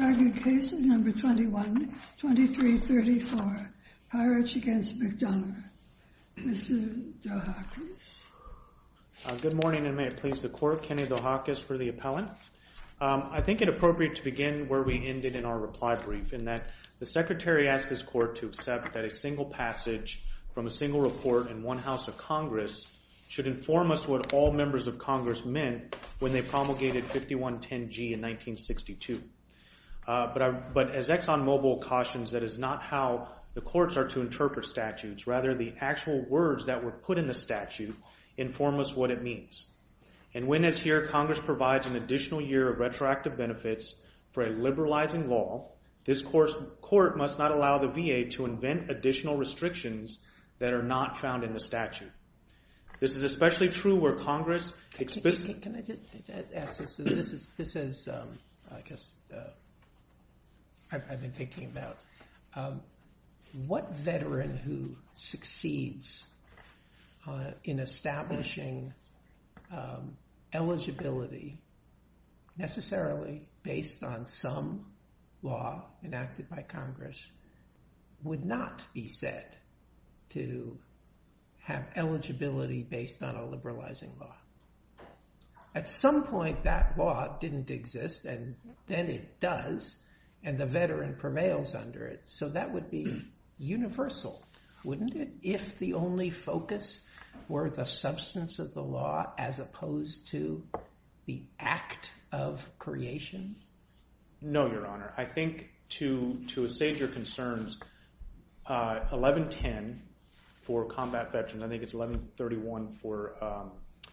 Argued Case No. 21-2334, Peiritsch v. McDonough. Mr. Dohakis. Good morning and may it please the Court, Kenny Dohakis for the Appellant. I think it appropriate to begin where we ended in our reply brief, in that the Secretary asked this Court to accept that a single passage from a single report in one House of Congress should inform us what all members of Congress meant when they promulgated 5110G in 1962. But as ExxonMobil cautions, that is not how the courts are to interpret statutes, rather the actual words that were put in the statute inform us what it means. And when, as here, Congress provides an additional year of retroactive benefits for a liberalizing law, this Court must not allow the VA to invent additional restrictions that are not found in the statute. This is especially true where Congress explicitly... Can I just ask this? This is, I guess, I've been thinking about what veteran who succeeds in establishing eligibility, necessarily based on some law enacted by Congress, would not be said to have eligibility based on a liberalizing law. At some point, that law didn't exist, and then it does, and the veteran prevails under it. So that would be universal, wouldn't it, if the only focus were the substance of the law as opposed to the act of creation? No, Your Honor. I think to assuage your concerns, 1110 for combat veterans, I think it's 1131 for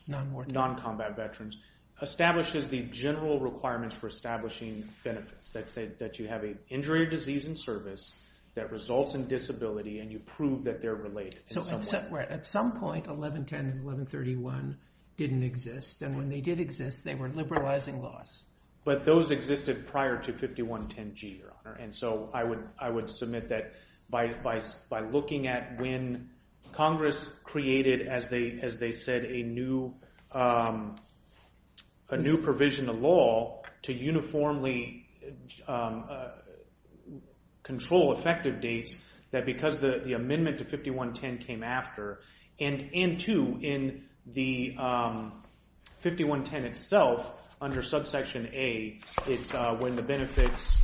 non-combat veterans, establishes the general requirements for establishing benefits. That you have an injury or disease in service that results in disability and you prove that they're related. So at some point, 1110 and 1131 didn't exist, and when they did exist, they were liberalizing laws. But those existed prior to 5110G, Your Honor. And so I would submit that by looking at when Congress created, as they said, a new provision of law to uniformly control effective dates, that because the amendment to 5110 came after, and two, in the 5110 itself, under subsection A, it's when the benefits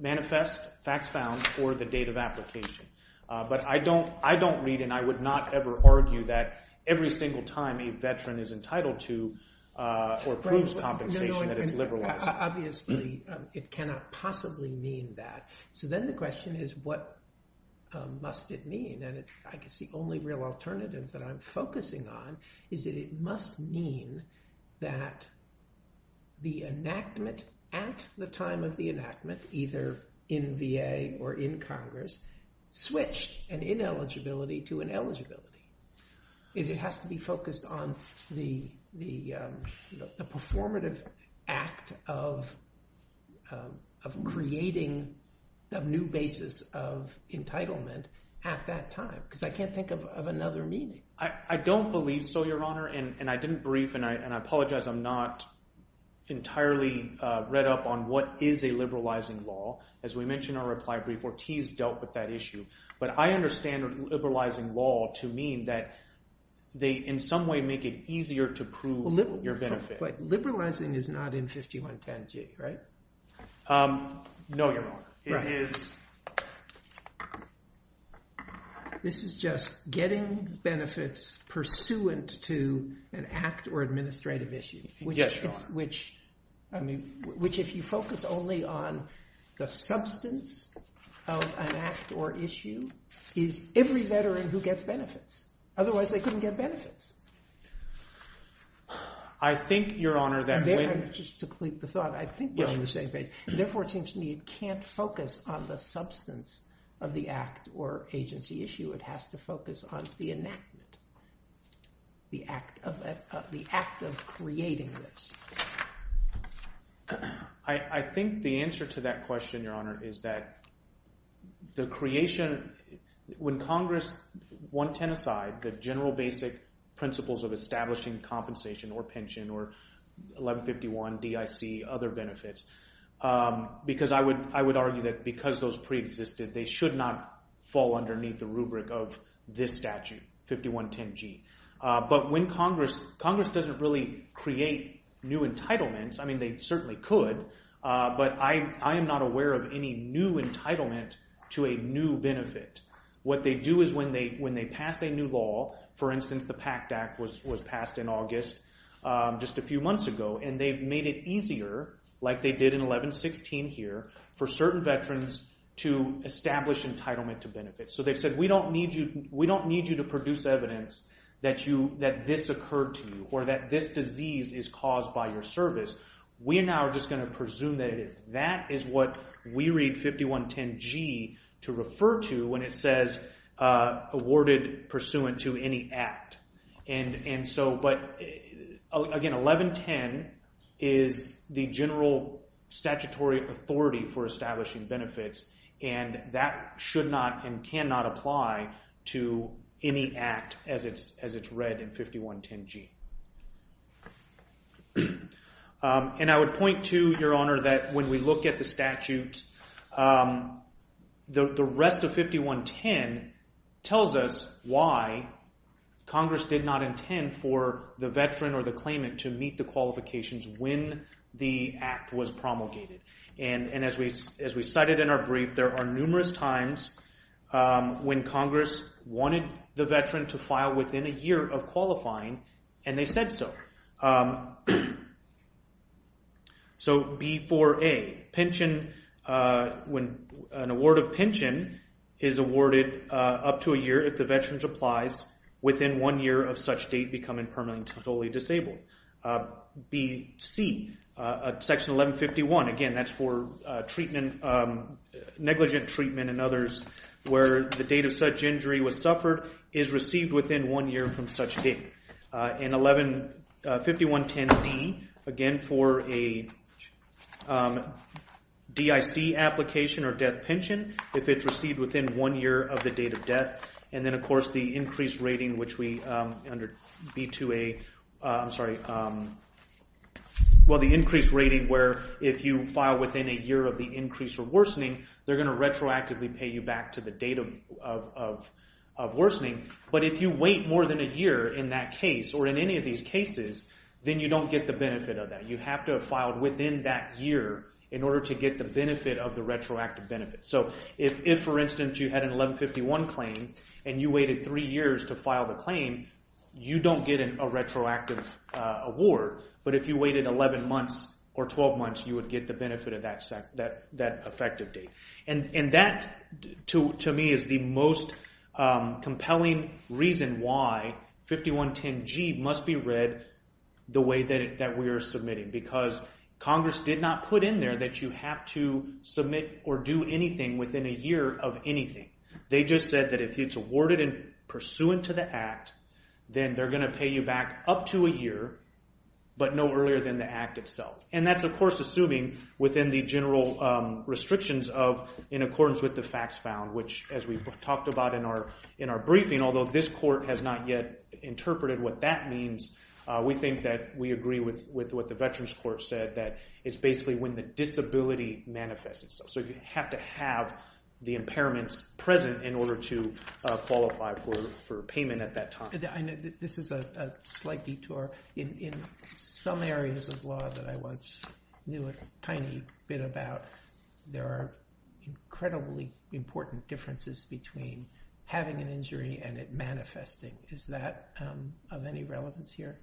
manifest, facts found, or the date of application. But I don't read and I would not ever argue that every single time a veteran is entitled to or approves compensation that it's liberalized. Obviously, it cannot possibly mean that. So then the question is, what must it mean? And I guess the only real alternative that I'm focusing on is that it must mean that the enactment at the time of the enactment, either in VA or in Congress, switched an ineligibility to an eligibility. It has to be focused on the performative act of creating a new basis of entitlement at that time, because I can't think of another meaning. I don't believe so, Your Honor. And I didn't brief, and I apologize, I'm not entirely read up on what is a liberalizing law. As we mentioned in our reply brief, Ortiz dealt with that issue. But I understand liberalizing law to mean that they, in some way, make it easier to prove your benefit. But liberalizing is not in 5110G, right? No, Your Honor. It is... This is just getting benefits pursuant to an act or administrative issue. Yes, Your Honor. I mean, which if you focus only on the substance of an act or issue, is every veteran who gets benefits. Otherwise, they couldn't get benefits. I think, Your Honor, that when... Just to complete the thought, I think we're on the same page. Therefore, it seems to me it can't focus on the substance of the act or agency issue. It has to focus on the enactment, the act of creating this. I think the answer to that question, Your Honor, is that the creation... When Congress, 110 aside, the general basic principles of establishing compensation or pension or 1151DIC, other benefits, because I would argue that because those preexisted, they should not fall underneath the rubric of this statute, 5110G. But when Congress... Congress doesn't really create new entitlements. I mean, they certainly could. But I am not aware of any new entitlement to a new benefit. What they do is when they pass a new law, for instance, the PACT Act was passed in August, just a few months ago, and they've made it easier, like they did in 1116 here, for certain veterans to establish entitlement to benefits. So they've said, we don't need you to produce evidence that this occurred to you or that this disease is caused by your service. We now are just going to presume that it is. That is what we read 5110G to refer to when it says awarded pursuant to any act. Again, 1110 is the general statutory authority for establishing benefits, and that should not and cannot apply to any act as it's read in 5110G. And I would point to, Your Honor, that when we look at the statute, the rest of 5110 tells us why Congress did not intend for the veteran or the claimant to meet qualifications when the act was promulgated. And as we cited in our brief, there are numerous times when Congress wanted the veteran to file within a year of qualifying, and they said so. So B4A, pension, when an award of pension is awarded up to a year if the veteran applies within one year of such date becoming permanently disabled. B.C., Section 1151, again, that's for negligent treatment and others where the date of such injury was suffered is received within one year from such date. And 5110D, again, for a DIC application or death pension, if it's received within one year of the date of death. And then, of course, the increased rating, which we, under B2A, I'm sorry, well, the increased rating where if you file within a year of the increase or worsening, they're going to retroactively pay you back to the date of worsening. But if you wait more than a year in that case or in any of these cases, then you don't get the benefit of that. You have to have filed within that year in order to get the benefit of the retroactive benefit. So if, for instance, you had an 1151 claim and you waited three years to file the claim, you don't get a retroactive award. But if you waited 11 months or 12 months, you would get the benefit of that effective date. And that, to me, is the most compelling reason why 5110G must be read the way that we are submitting because Congress did not put in there that you have to submit or do anything within a year of anything. They just said that if it's awarded and pursuant to the act, then they're going to pay you back up to a year, but no earlier than the act itself. And that's, of course, assuming within the general restrictions of in accordance with the facts found, which, as we've talked about in our briefing, although this court has not yet interpreted what that means, we think that we said that it's basically when the disability manifests itself. So you have to have the impairments present in order to qualify for payment at that time. I know this is a slight detour. In some areas of law that I once knew a tiny bit about, there are incredibly important differences between having an injury and it manifesting. Is that of any relevance here?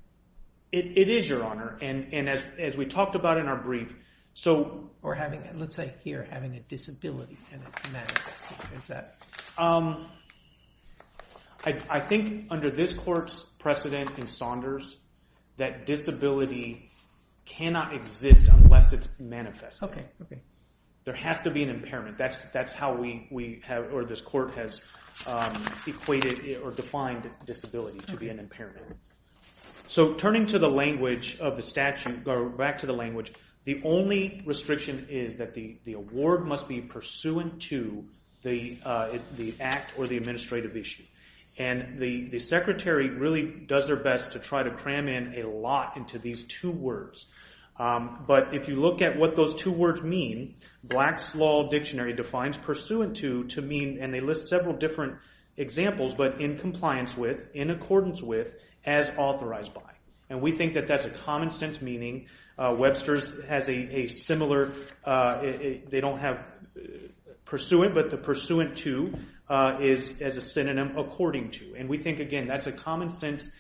It is, Your Honor. And as we talked about in our brief, so... Or having, let's say here, having a disability and it manifesting. Is that... I think under this court's precedent in Saunders, that disability cannot exist unless it's manifesting. There has to be an impairment. That's how we have, or this court has equated or defined disability to be an impairment. So turning to the language of the statute, or back to the language, the only restriction is that the award must be pursuant to the act or the administrative issue. And the secretary really does their best to try to cram in a lot into these two words. But if you look at what those two words mean, Black's Law Dictionary defines pursuant to, to mean, and they list several different examples, but in compliance with, in accordance with, as authorized by. And we think that that's a common sense meaning. Webster's has a similar... They don't have pursuant, but the pursuant to is as a synonym according to. And we think, again, that's a common sense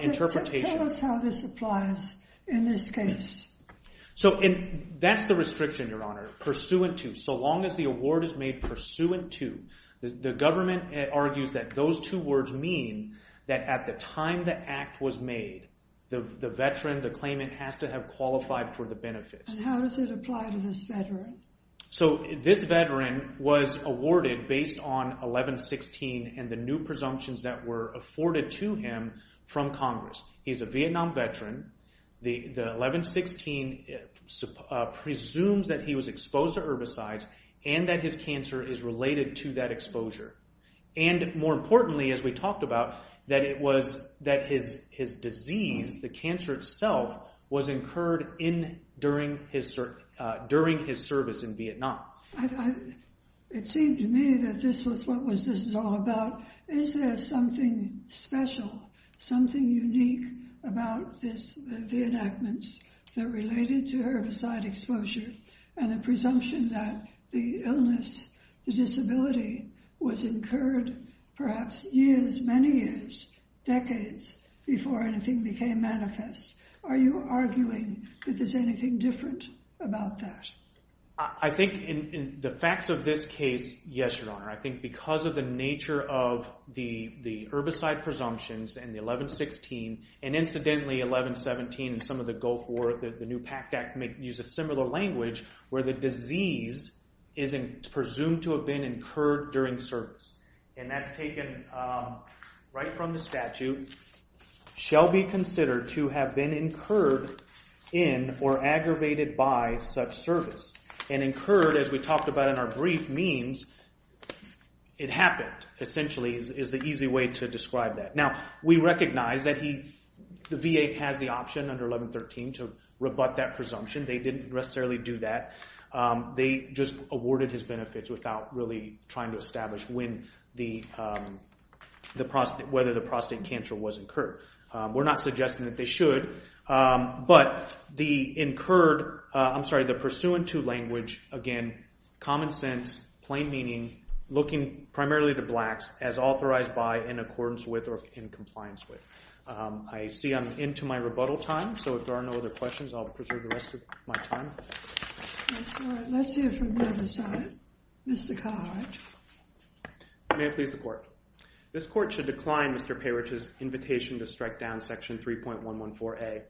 interpretation. Tell us how this applies in this case. So that's the restriction, Your Honor, pursuant to. So long as the award is made pursuant to, the government argues that those two words mean that at the time the act was made, the veteran, the claimant has to have qualified for the benefits. And how does it apply to this veteran? So this veteran was awarded based on 1116 and the new presumptions that were afforded to him from Congress. He's a Vietnam veteran. The 1116 presumes that he was exposed to herbicides and that his cancer is related to that exposure. And more importantly, as we talked about, that it was, that his disease, the cancer itself, was incurred during his service in Vietnam. I... It seemed to me that this was what was this all about. Is there something special, something unique about this, the enactments that related to herbicide exposure and the presumption that the illness, the disability was incurred perhaps years, many years, decades before anything became manifest? Are you arguing that there's anything different about that? I think in the facts of this case, yes, Your Honor. I think because of the nature of the herbicide presumptions and the 1116, and incidentally 1117 and some of the Gulf War, the new PACT Act uses similar language where the disease is presumed to have been incurred during service. And that's taken right from the statute, shall be considered to have been incurred in or aggravated by such service. And incurred, as we talked about in our brief, means it happened, essentially, is the easy way to describe that. Now, we recognize that he, the VA has the option under 1113 to rebut that presumption. They didn't necessarily do that. They just awarded his benefits without really trying to establish when the prostate, whether the prostate cancer was incurred. We're not suggesting that they should. But the incurred, I'm sorry, the pursuant to language, again, common sense, plain meaning, looking primarily to blacks as authorized by, in accordance with, or in compliance with. I see I'm into my rebuttal time. So if there are no other questions, I'll preserve the rest of my time. Let's hear from the other side. Mr. Codd. I may have pleased the court. This court should decline Mr. Parich's invitation to strike down section 3.114A.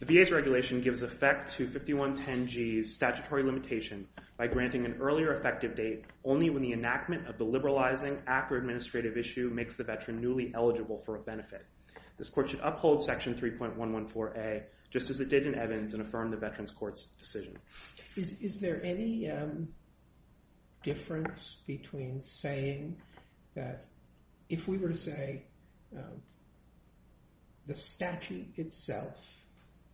The VA's regulation gives effect to 5110G's statutory limitation by granting an earlier effective date only when the enactment of the liberalizing ACRA administrative issue makes the veteran newly eligible for a benefit. This court should uphold section 3.114A, just as it did in Evans and affirm the veteran's court's decision. Is there any difference between saying that if we were to say the statute itself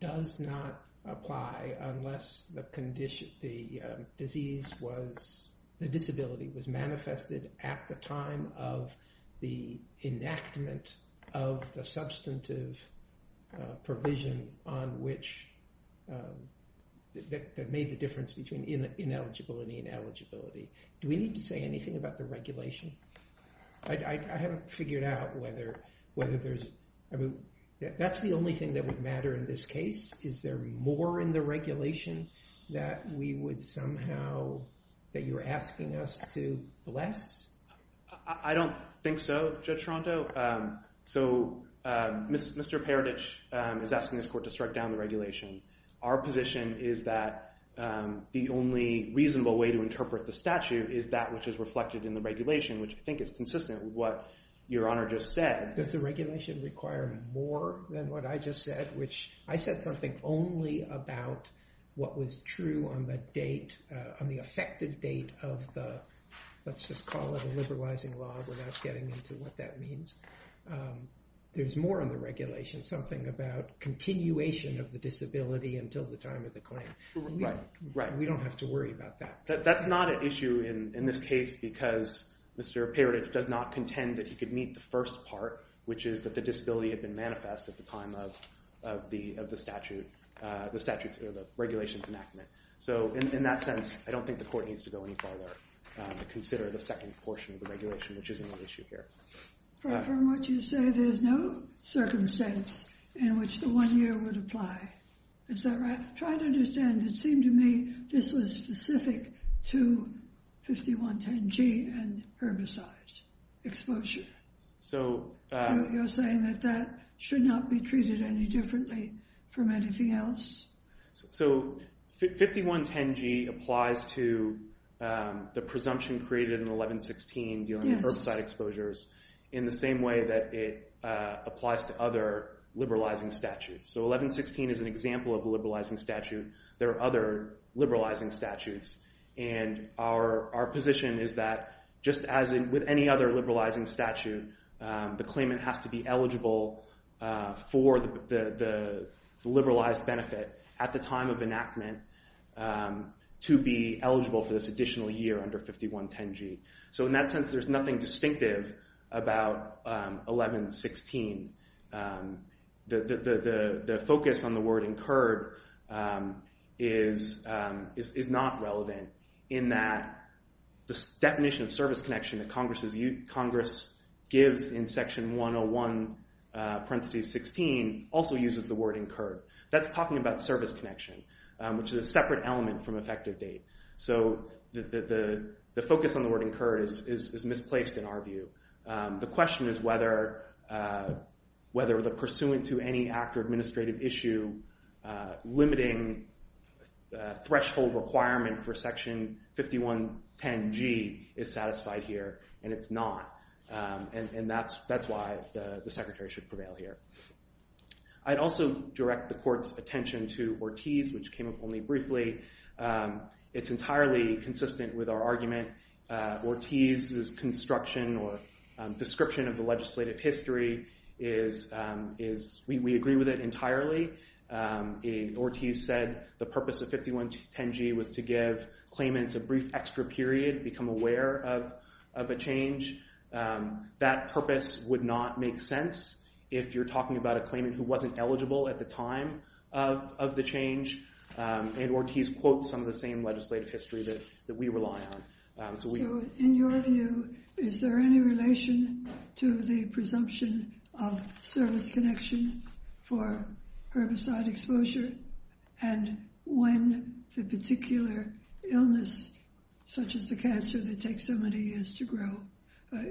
does not apply unless the condition, the disease was, the disability was made the difference between ineligibility and eligibility? Do we need to say anything about the regulation? I haven't figured out whether there's, that's the only thing that would matter in this case. Is there more in the regulation that we would somehow, that you're asking us to bless? I don't think so, Judge Toronto. So Mr. Parich is asking this court to strike down the regulation. Our position is that the only reasonable way to interpret the statute is that which is reflected in the regulation, which I think is consistent with what your honor just said. Does the regulation require more than what I just said, which I said something only about what was true on the date, on the effective date of the, let's just call it a liberalizing law without getting into what that about continuation of the disability until the time of the claim. We don't have to worry about that. That's not an issue in this case because Mr. Parich does not contend that he could meet the first part, which is that the disability had been manifest at the time of the statute, the statutes or the regulations enactment. So in that sense, I don't think the court needs to go any further to consider the second portion of the regulation, which isn't an issue here. From what you say, there's no circumstance in which the one year would apply. Is that right? Try to understand. It seemed to me this was specific to 5110G and herbicide exposure. So you're saying that that should not be treated any differently from anything else? So 5110G applies to the presumption created in 1116 dealing with herbicide exposures in the same way that it applies to other liberalizing statutes. So 1116 is an example of a liberalizing statute. There are other liberalizing statutes. And our position is that just as with any other at the time of enactment to be eligible for this additional year under 5110G. So in that sense, there's nothing distinctive about 1116. The focus on the word incurred is not relevant in that the definition of service connection that Congress gives in section 101 parentheses 16 also uses the word incurred. That's talking about service connection, which is a separate element from effective date. So the focus on the word incurred is misplaced in our view. The question is whether the pursuant to any active administrative issue limiting threshold requirement for section 5110G is satisfied here. And it's not. And that's why the secretary should prevail here. I'd also direct the court's attention to Ortiz, which came up only briefly. It's entirely consistent with our argument. Ortiz's construction or description of the legislative history is, we agree with it entirely. Ortiz said the purpose of 5110G was to give claimants a brief extra period, become aware of a change. That purpose would not make sense if you're talking about a claimant who wasn't eligible at the time of the change. And Ortiz quotes some of the same legislative history that we rely on. So in your view, is there any relation to the presumption of service connection for herbicide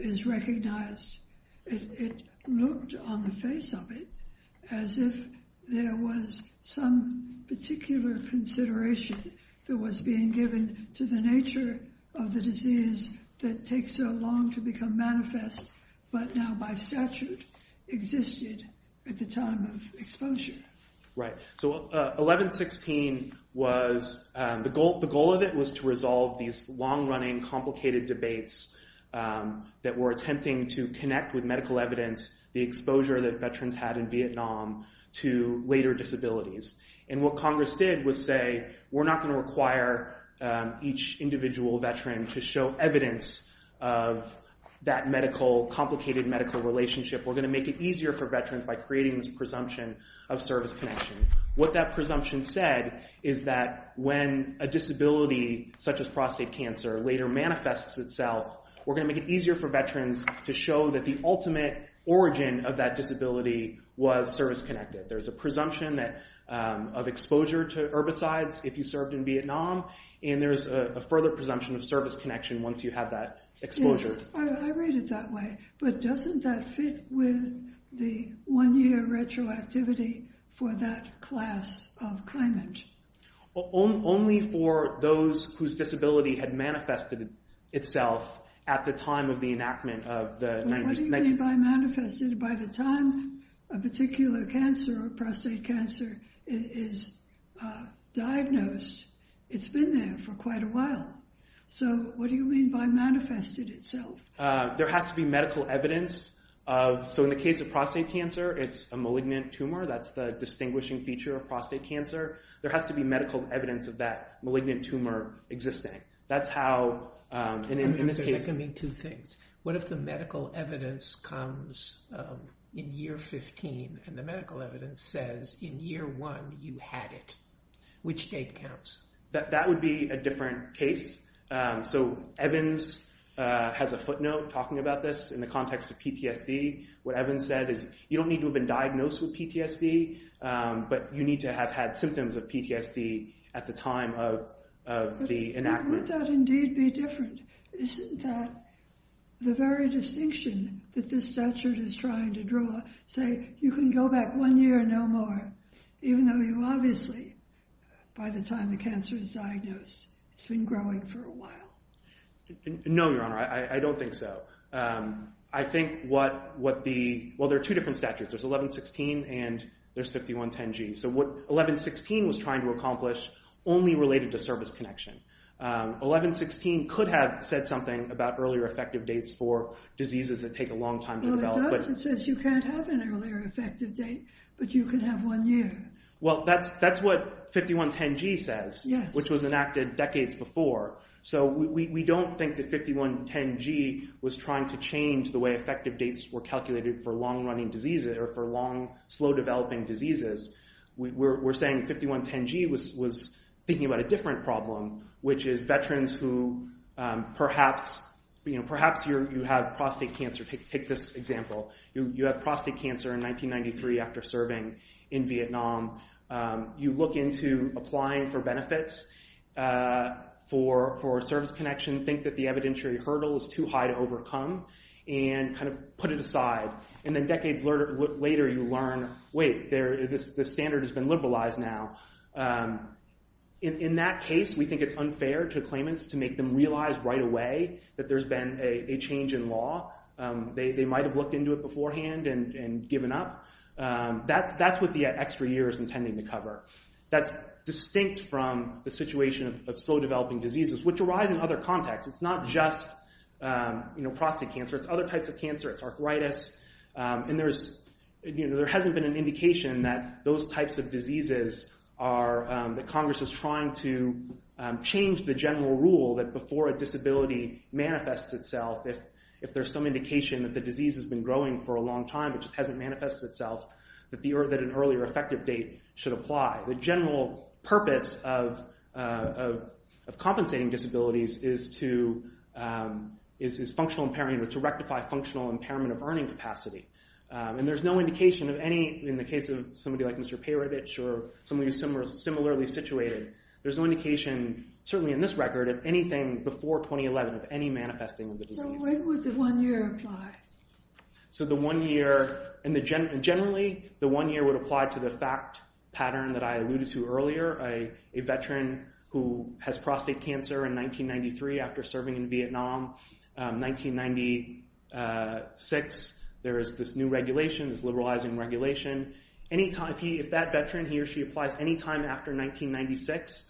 is recognized? It looked on the face of it as if there was some particular consideration that was being given to the nature of the disease that takes so long to become manifest, but now by statute existed at the time of exposure. Right. So 1116 was the goal. The goal of it was to that we're attempting to connect with medical evidence, the exposure that veterans had in Vietnam to later disabilities. And what Congress did was say, we're not going to require each individual veteran to show evidence of that medical, complicated medical relationship. We're going to make it easier for veterans by creating this presumption of service connection. What that presumption said is that when a disability such as prostate cancer later manifests itself, we're going to make it easier for veterans to show that the ultimate origin of that disability was service connected. There's a presumption of exposure to herbicides if you served in Vietnam, and there's a further presumption of service connection once you have that exposure. I read it that way, but doesn't that fit with the one year retroactivity for that class of claimant? Well, only for those whose disability had manifested itself at the time of the enactment of the... What do you mean by manifested? By the time a particular cancer or prostate cancer is diagnosed, it's been there for quite a while. So what do you mean by manifested itself? There has to be medical evidence. So in the case of prostate cancer, it's a malignant tumor. That's the distinguishing feature of prostate cancer. There has to be medical evidence of that malignant tumor existing. That's how... In this case... I mean, two things. What if the medical evidence comes in year 15 and the medical evidence says in year one you had it? Which date counts? That would be a different case. So Evans has a footnote talking about this in the context of PTSD. What Evans said is you don't need to have been diagnosed with PTSD, but you need to have had symptoms of PTSD at the time of the enactment. But would that indeed be different? Isn't that the very distinction that this statute is trying to draw? Say, you can go back one year, no more, even though you obviously, by the time the cancer is diagnosed, it's been growing for a while. No, Your Honor. I don't think so. I think what the... Well, there are two different statutes. There's 1116 and there's 5110G. So what 1116 was trying to accomplish only related to service connection. 1116 could have said something about earlier effective dates for diseases that take a long time to develop. Well, it does. It says you can't have an earlier effective date, but you can have one year. Well, that's what 5110G says, which was enacted decades before. So we don't think that 5110G was trying to change the way effective dates were calculated for long running diseases or for long, slow developing diseases. We're saying 5110G was thinking about a different problem, which is veterans who perhaps you have prostate cancer. Take this example. You have prostate cancer in 1993 after serving in Vietnam. You look into applying for benefits for service connection, think that the evidentiary hurdle is too high to overcome and kind of put it aside. And then decades later you learn, wait, the standard has been liberalized now. In that case, we think it's unfair to claimants to make them realize right away that there's been a change in law. They might've looked into it beforehand and given up. That's the extra years intending to cover. That's distinct from the situation of slow developing diseases, which arise in other contexts. It's not just prostate cancer. It's other types of cancer. It's arthritis. And there hasn't been an indication that those types of diseases that Congress is trying to change the general rule that before a disability manifests itself, if there's some indication that the disease has been growing for a long time, it just hasn't manifested itself, that an earlier effective date should apply. The general purpose of compensating disabilities is to rectify functional impairment of earning capacity. And there's no indication of any, in the case of somebody like Mr. Payrevich or somebody who's similarly situated, there's no indication, certainly in this record, of anything before 2011 of any manifesting of the disease. So when would the one year apply? So the one year, and generally, the one year would apply to the fact pattern that I alluded to earlier. A veteran who has prostate cancer in 1993 after serving in Vietnam, 1996, there is this new regulation, this liberalizing regulation. If that veteran, he or she applies any time after 1996,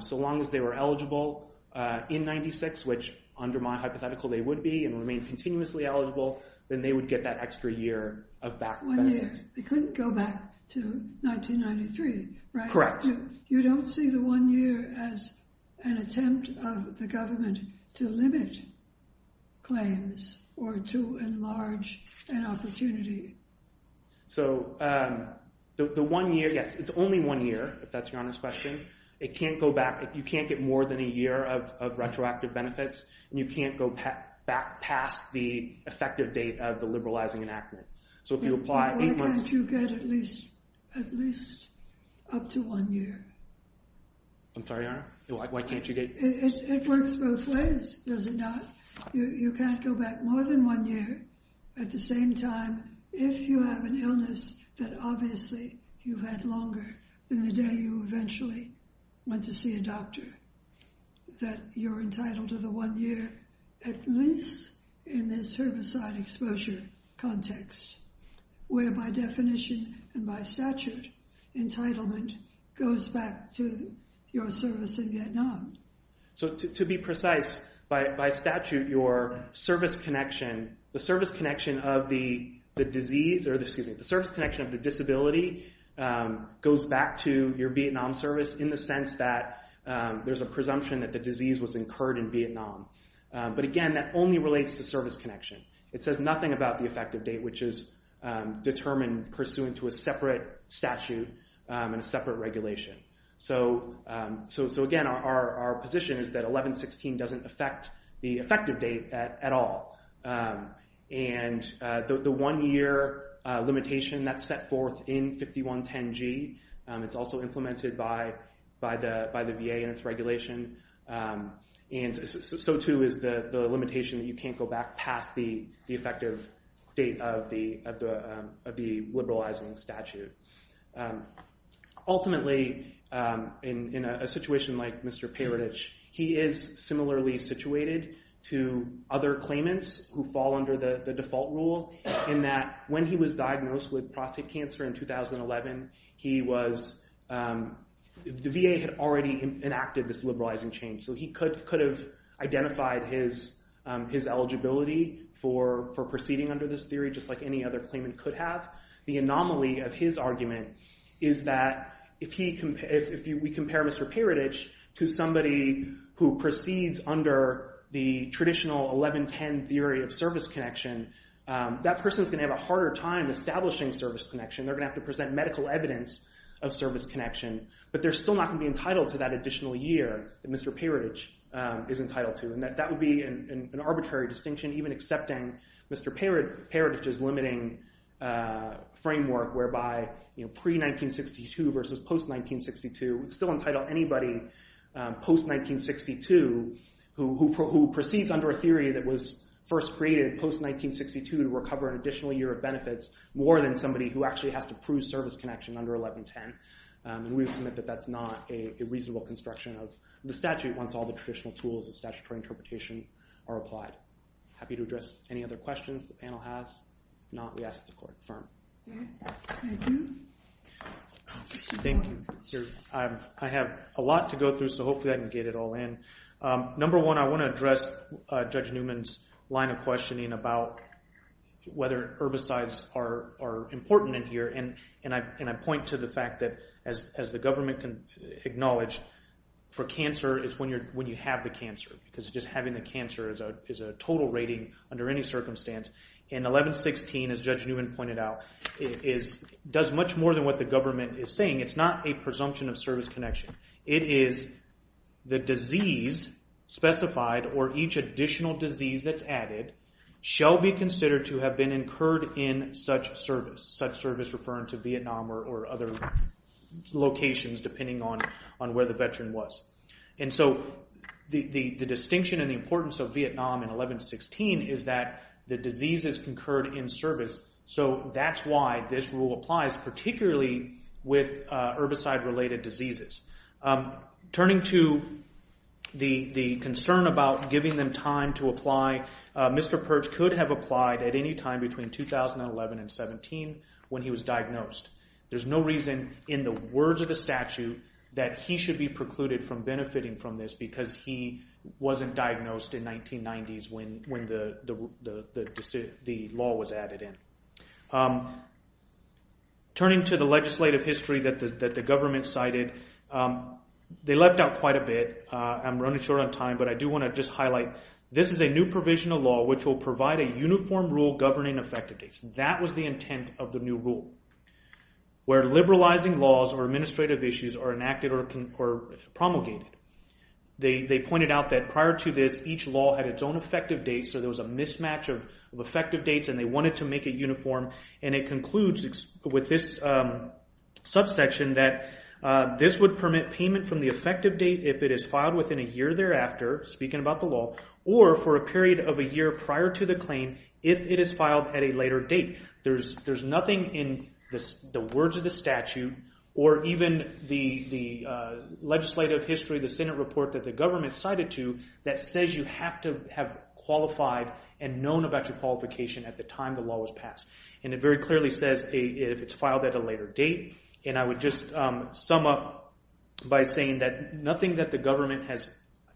so long as they were eligible in 96, which under my hypothetical, they would be and remain continuously eligible, then they would get that extra year of back benefits. One year. They couldn't go back to 1993, right? Correct. You don't see the one year as an attempt of the government to limit claims or to enlarge an opportunity? So the one year, yes, it's only one year, if that's your honest question. It can't go back, the effective date of the liberalizing enactment. So if you apply... Then why can't you get at least up to one year? I'm sorry, Your Honor? Why can't you get... It works both ways, does it not? You can't go back more than one year. At the same time, if you have an illness that obviously you've had longer than the day you eventually went to see a service-side exposure context, where by definition and by statute, entitlement goes back to your service in Vietnam? So to be precise, by statute, your service connection, the service connection of the disease or excuse me, the service connection of the disability goes back to your Vietnam service in the sense that there's a presumption that the disease was incurred in Vietnam. But again, that only relates to service connection. It says nothing about the effective date, which is determined pursuant to a separate statute and a separate regulation. So again, our position is that 1116 doesn't affect the effective date at all. And the one year limitation that's set forth in 5110G, it's also implemented by the VA and its regulation. And so too is the limitation that you can't go back past the effective date of the liberalizing statute. Ultimately, in a situation like Mr. Paradich, he is similarly situated to other claimants who fall under the default rule in that when he was diagnosed with liberalizing change. So he could have identified his eligibility for proceeding under this theory just like any other claimant could have. The anomaly of his argument is that if we compare Mr. Paradich to somebody who proceeds under the traditional 1110 theory of service connection, that person is going to have a harder time establishing service connection. They're going to have to present medical evidence of service connection, but they're still not going to be Mr. Paradich is entitled to. And that would be an arbitrary distinction, even accepting Mr. Paradich's limiting framework whereby pre-1962 versus post-1962 would still entitle anybody post-1962 who proceeds under a theory that was first created post-1962 to recover an additional year of benefits more than somebody who actually has to prove service connection under 1110. And we submit that that's not a reasonable construction of the statute once all the traditional tools of statutory interpretation are applied. Happy to address any other questions the panel has. If not, we ask that the court confirm. Thank you. I have a lot to go through, so hopefully I can get it all in. Number one, I want to address Judge Newman's line of questioning about whether herbicides are important in here. And I point to the fact that, as the government can acknowledge, for cancer, it's when you have the cancer. Because just having the cancer is a total rating under any circumstance. And 1116, as Judge Newman pointed out, does much more than what the government is saying. It's not a presumption of service connection. It is the shall be considered to have been incurred in such service. Such service referring to Vietnam or other locations, depending on where the veteran was. And so the distinction and the importance of Vietnam in 1116 is that the disease is concurred in service. So that's why this rule applies, particularly with herbicide-related diseases. Turning to the concern about giving them time to apply, Mr. Perch could have applied at any time between 2011 and 17 when he was diagnosed. There's no reason in the words of the statute that he should be precluded from benefiting from this because he wasn't diagnosed in the 1990s when the law was added in. Turning to the legislative history that the government cited, they left out quite a bit. I'm running short on time, but I do a new provision of law which will provide a uniform rule governing effective dates. That was the intent of the new rule, where liberalizing laws or administrative issues are enacted or promulgated. They pointed out that prior to this, each law had its own effective dates, so there was a mismatch of effective dates and they wanted to make it uniform. And it concludes with this subsection that this would permit payment from the effective date if it is filed within a year thereafter, speaking about the law, or for a period of a year prior to the claim if it is filed at a later date. There's nothing in the words of the statute or even the legislative history, the Senate report that the government cited to, that says you have to have qualified and known about your qualification at the time the law was passed. It very clearly says if it's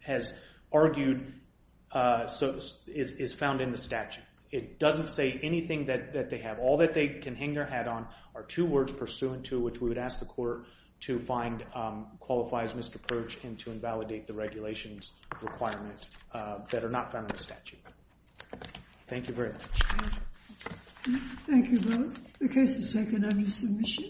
has argued, is found in the statute. It doesn't say anything that they have. All that they can hang their hat on are two words pursuant to which we would ask the court to find qualifies misapproach and to invalidate the regulations requirement that are not found in the statute. Thank you very much. Thank you both. The case is taken under submission.